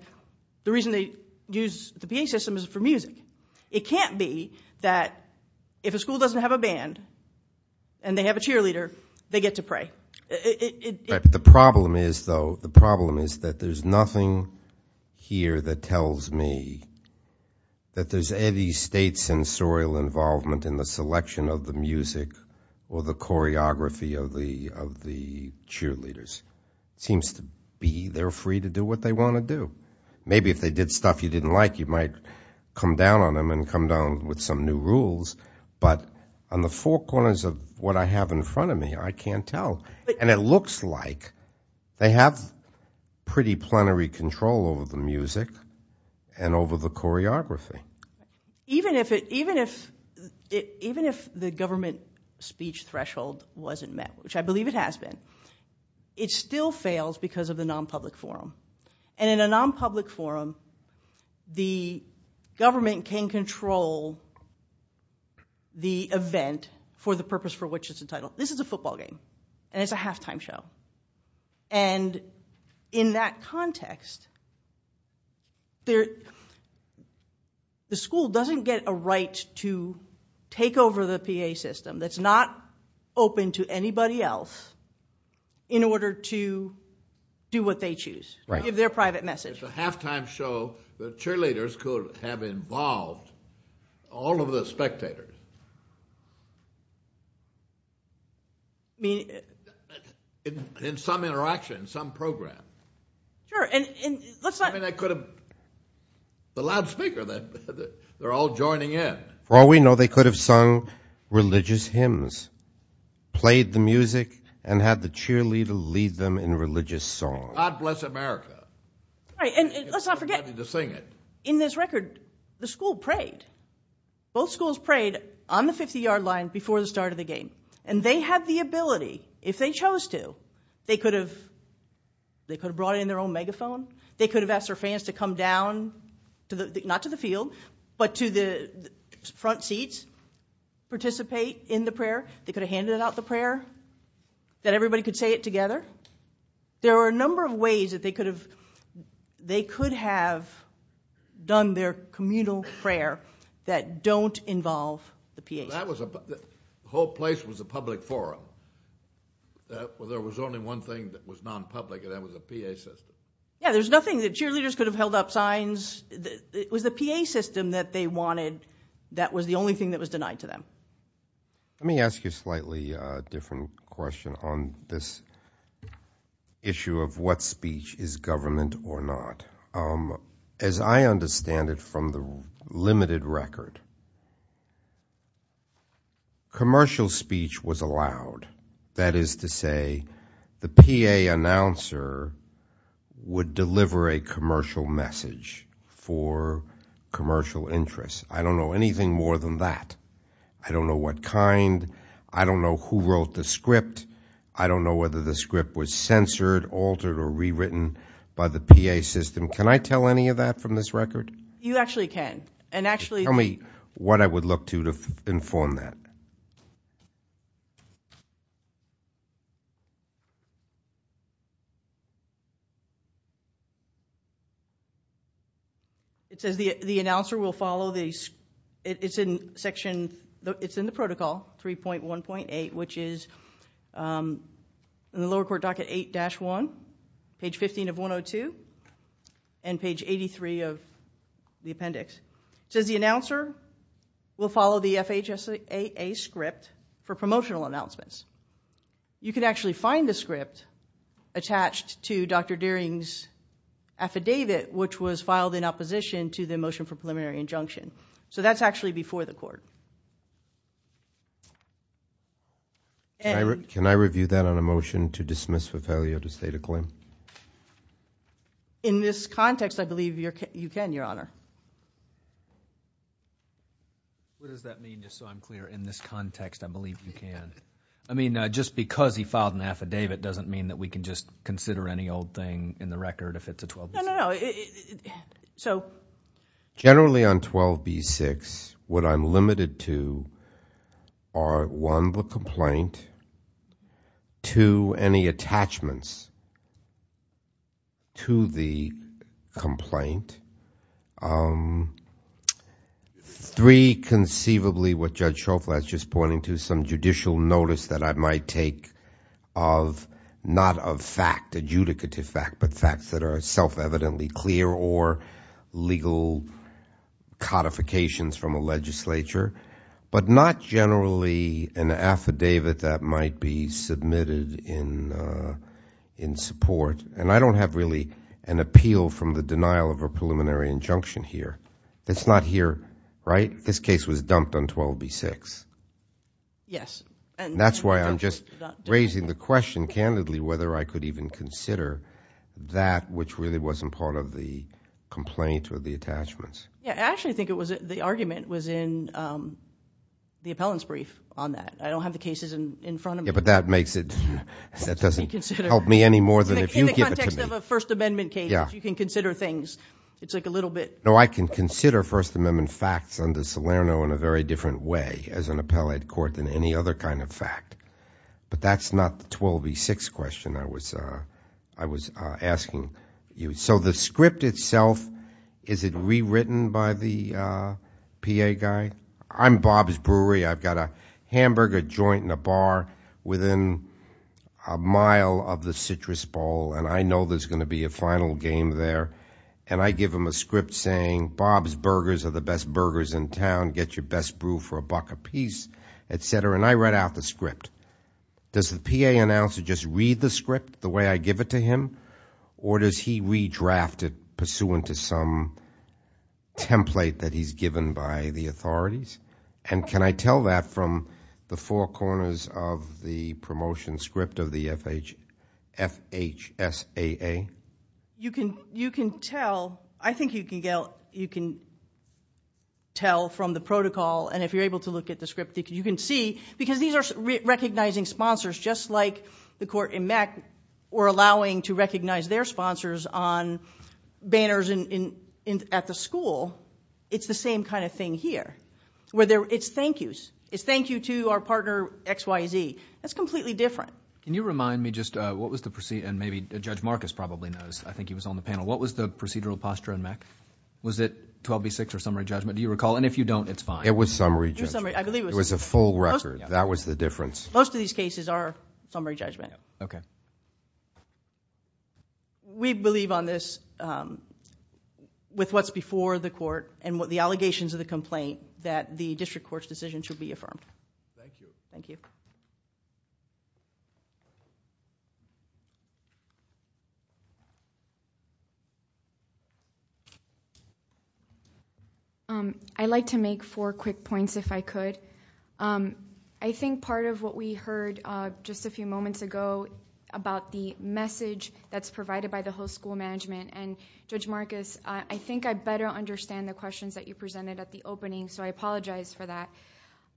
the reason they use the PA system is for music. It can't be that if a school doesn't have a band and they have a cheerleader, they get to pray. The problem is, though, the problem is that there's nothing here that tells me that there's any state sensorial involvement in the selection of the music or the choreography of the cheerleaders. It seems to be they're free to do what they want to do. Maybe if they did stuff you didn't like, you might come down on them and come down with some new rules. But on the four corners of what I have in front of me, I can't tell. And it looks like they have pretty plenary control over the music and over the choreography. Even if the government speech threshold wasn't met, which I believe it has been, it still fails because of the nonpublic forum. And in a nonpublic forum, the government can control the event for the purpose for which it's entitled. This is a football game, and it's a halftime show. And in that context, the school doesn't get a right to take over the PA system that's not open to anybody else in order to do what they choose, give their private message. It's a halftime show. The cheerleaders could have involved all of the spectators. I mean, in some interaction, some program. Sure, and let's not – I mean, they could have – the loudspeaker, they're all joining in. For all we know, they could have sung religious hymns, played the music, and had the cheerleader lead them in religious songs. God bless America. Right, and let's not forget – If they were ready to sing it. In this record, the school prayed. Both schools prayed on the 50-yard line before the start of the game. And they had the ability, if they chose to, they could have brought in their own megaphone. They could have asked their fans to come down, not to the field, but to the front seats, participate in the prayer. They could have handed out the prayer, that everybody could say it together. There are a number of ways that they could have done their communal prayer that don't involve the PA system. That was – the whole place was a public forum. There was only one thing that was non-public, and that was the PA system. Yeah, there's nothing – the cheerleaders could have held up signs. It was the PA system that they wanted that was the only thing that was denied to them. Let me ask you a slightly different question on this issue of what speech is government or not. As I understand it from the limited record, commercial speech was allowed. That is to say the PA announcer would deliver a commercial message for commercial interests. I don't know anything more than that. I don't know what kind. I don't know who wrote the script. I don't know whether the script was censored, altered, or rewritten by the PA system. Can I tell any of that from this record? You actually can, and actually – Tell me what I would look to to inform that. It says the announcer will follow the – it's in section – it's in the protocol 3.1.8, which is in the lower court docket 8-1, page 15 of 102, and page 83 of the appendix. It says the announcer will follow the FHSAA script for promotional announcements. You can actually find the script attached to Dr. Deering's affidavit, which was filed in opposition to the motion for preliminary injunction. That's actually before the court. Can I review that on a motion to dismiss for failure to state a claim? In this context, I believe you can, Your Honor. What does that mean, just so I'm clear? In this context, I believe you can. I mean, just because he filed an affidavit doesn't mean that we can just consider any old thing in the record if it's a 12B6. No, no, no. Two, the complaint. Three, conceivably what Judge Schofield has just pointed to, some judicial notice that I might take of not a fact, adjudicative fact, but facts that are self-evidently clear or legal codifications from a legislature, but not generally an affidavit that might be submitted in support. And I don't have really an appeal from the denial of a preliminary injunction here. It's not here, right? This case was dumped on 12B6. Yes. And that's why I'm just raising the question, candidly, whether I could even consider that which really wasn't part of the complaint or the attachments. Yeah, I actually think the argument was in the appellant's brief on that. I don't have the cases in front of me. Yeah, but that doesn't help me any more than if you give it to me. In the context of a First Amendment case, if you can consider things, it's like a little bit. No, I can consider First Amendment facts under Salerno in a very different way as an appellate court than any other kind of fact. But that's not the 12B6 question I was asking you. So the script itself, is it rewritten by the PA guy? I'm Bob's Brewery. I've got a hamburger joint and a bar within a mile of the Citrus Bowl, and I know there's going to be a final game there. And I give him a script saying, Bob's Burgers are the best burgers in town. Get your best brew for a buck apiece, et cetera. And I write out the script. Does the PA announcer just read the script the way I give it to him, or does he redraft it pursuant to some template that he's given by the authorities? And can I tell that from the four corners of the promotion script of the FHSAA? You can tell. I think you can tell from the protocol, and if you're able to look at the script, you can see. Because these are recognizing sponsors, just like the court in MECC were allowing to recognize their sponsors on banners at the school. It's the same kind of thing here. It's thank yous. It's thank you to our partner XYZ. That's completely different. Can you remind me just what was the procedure? And maybe Judge Marcus probably knows. I think he was on the panel. What was the procedural posture in MECC? Was it 12B6 or summary judgment? Do you recall? And if you don't, it's fine. It was summary judgment. I believe it was. It was a full record. That was the difference. Most of these cases are summary judgment. Okay. We believe on this, with what's before the court and the allegations of the complaint, that the district court's decision should be affirmed. Thank you. Thank you. I'd like to make four quick points, if I could. I think part of what we heard just a few moments ago about the message that's provided by the whole school management, and Judge Marcus, I think I better understand the questions that you presented at the opening, so I apologize for that.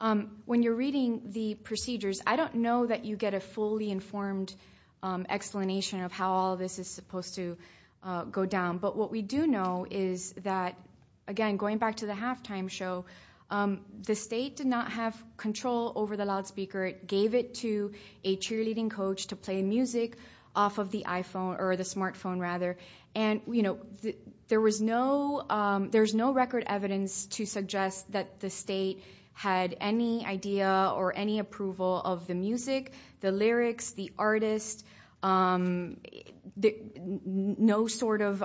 When you're reading the procedures, I don't know that you get a fully informed explanation of how all this is supposed to go down. But what we do know is that, again, going back to the halftime show, the state did not have control over the loudspeaker. It gave it to a cheerleading coach to play music off of the iPhone, or the smartphone, rather. There was no record evidence to suggest that the state had any idea or any approval of the music, the lyrics, the artist, no sort of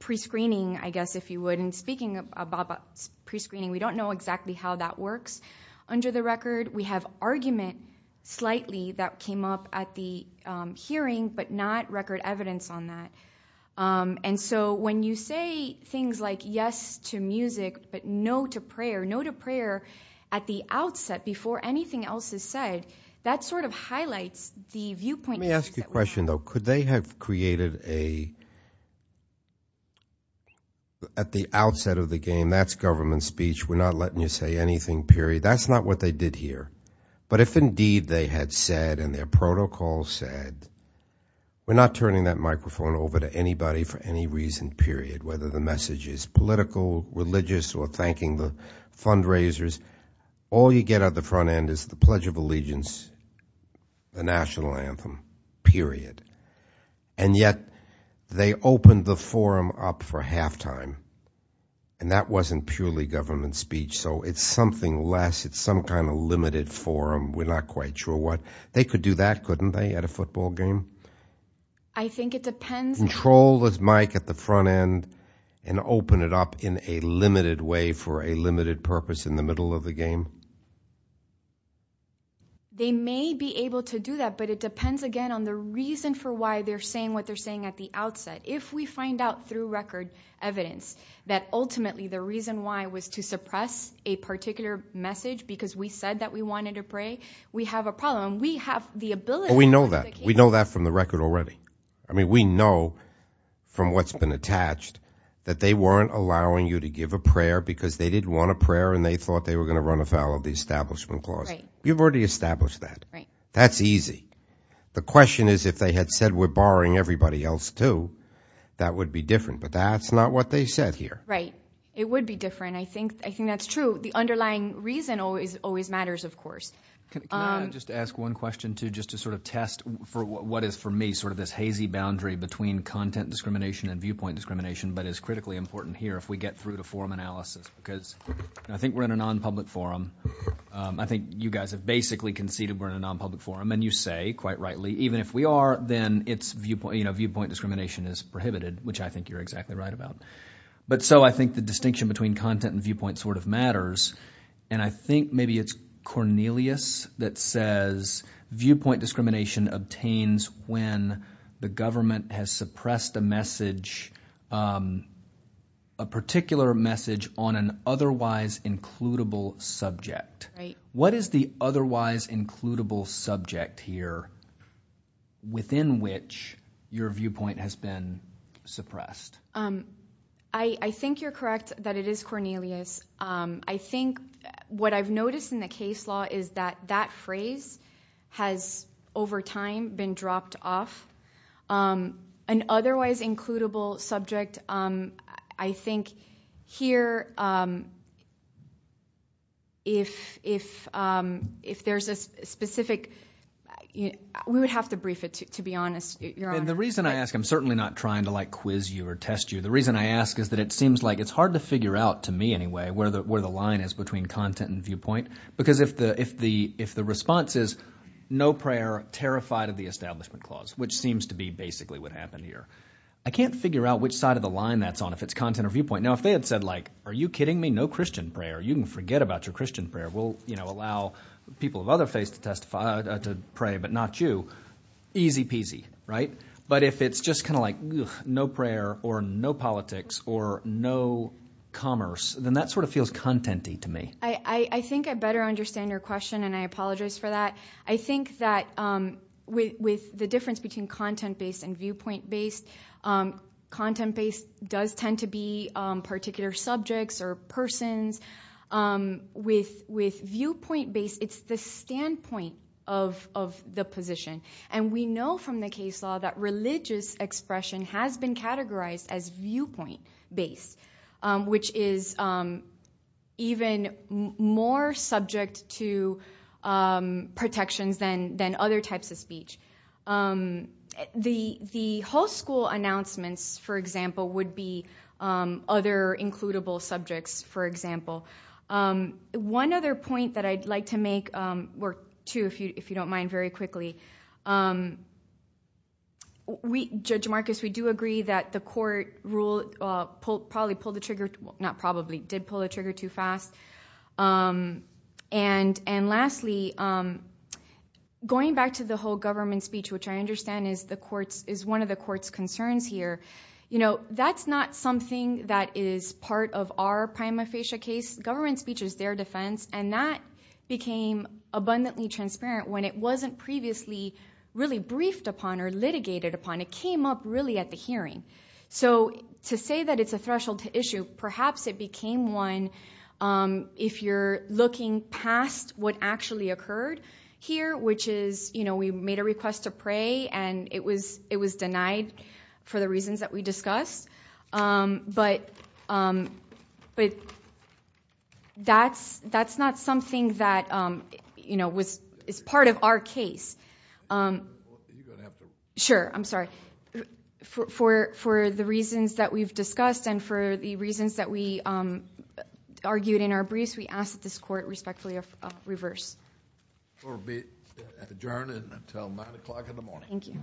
prescreening, I guess, if you would. And speaking of prescreening, we don't know exactly how that works under the record. We have argument, slightly, that came up at the hearing, but not record evidence on that. And so when you say things like yes to music, but no to prayer, no to prayer at the outset before anything else is said, that sort of highlights the viewpoint issues that we have. Let me ask you a question, though. Could they have created a, at the outset of the game, that's government speech, we're not letting you say anything, period. That's not what they did here. But if indeed they had said, and their protocol said, we're not turning that microphone over to anybody for any reason, period, whether the message is political, religious, or thanking the fundraisers, all you get at the front end is the Pledge of Allegiance, the National Anthem, period. And yet, they opened the forum up for halftime, and that wasn't purely government speech, so it's something less. It's some kind of limited forum. We're not quite sure what. They could do that, couldn't they, at a football game? I think it depends. Control this mic at the front end and open it up in a limited way for a limited purpose in the middle of the game. They may be able to do that, but it depends, again, on the reason for why they're saying what they're saying at the outset. If we find out through record evidence that ultimately the reason why was to suppress a particular message because we said that we wanted to pray, we have a problem. We have the ability. We know that. We know that from the record already. I mean, we know from what's been attached that they weren't allowing you to give a prayer because they didn't want a prayer and they thought they were going to run afoul of the Establishment Clause. Right. You've already established that. Right. That's easy. The question is if they had said we're borrowing everybody else too, that would be different, but that's not what they said here. Right. It would be different. I think that's true. The underlying reason always matters, of course. Can I just ask one question, too, just to sort of test for what is for me sort of this hazy boundary between content discrimination and viewpoint discrimination but is critically important here if we get through to forum analysis because I think we're in a non-public forum. I think you guys have basically conceded we're in a non-public forum and you say quite rightly even if we are, then it's – viewpoint discrimination is prohibited, which I think you're exactly right about. But so I think the distinction between content and viewpoint sort of matters, and I think maybe it's Cornelius that says viewpoint discrimination obtains when the government has suppressed a message, a particular message on an otherwise includable subject. Right. What is the otherwise includable subject here within which your viewpoint has been suppressed? I think you're correct that it is Cornelius. I think what I've noticed in the case law is that that phrase has over time been dropped off. An otherwise includable subject, I think here if there's a specific – we would have to brief it, to be honest. You're on. And the reason I ask – I'm certainly not trying to like quiz you or test you. The reason I ask is that it seems like it's hard to figure out, to me anyway, where the line is between content and viewpoint because if the response is no prayer, terrified of the Establishment Clause, which seems to be basically what happened here, I can't figure out which side of the line that's on if it's content or viewpoint. Now, if they had said like, are you kidding me? No Christian prayer. You can forget about your Christian prayer. We'll allow people of other faiths to testify – to pray, but not you. Easy peasy, right? But if it's just kind of like no prayer or no politics or no commerce, then that sort of feels content-y to me. I think I better understand your question, and I apologize for that. I think that with the difference between content-based and viewpoint-based, content-based does tend to be particular subjects or persons. With viewpoint-based, it's the standpoint of the position. And we know from the case law that religious expression has been categorized as viewpoint-based, which is even more subject to protections than other types of speech. The whole school announcements, for example, would be other includable subjects, for example. One other point that I'd like to make, too, if you don't mind, very quickly. Judge Marcus, we do agree that the court probably pulled the trigger – not probably, did pull the trigger too fast. And lastly, going back to the whole government speech, which I understand is one of the court's cases, government speech is their defense, and that became abundantly transparent when it wasn't previously really briefed upon or litigated upon. It came up really at the hearing. So to say that it's a threshold issue, perhaps it became one if you're looking past what actually occurred here, which is we made a request to pray, and it was denied for the reasons that we discussed. But that's not something that is part of our case. Sure, I'm sorry. For the reasons that we've discussed and for the reasons that we argued in our briefs, we ask that this court respectfully reverse. Court will be adjourned until 9 o'clock in the morning. Thank you. Thank you.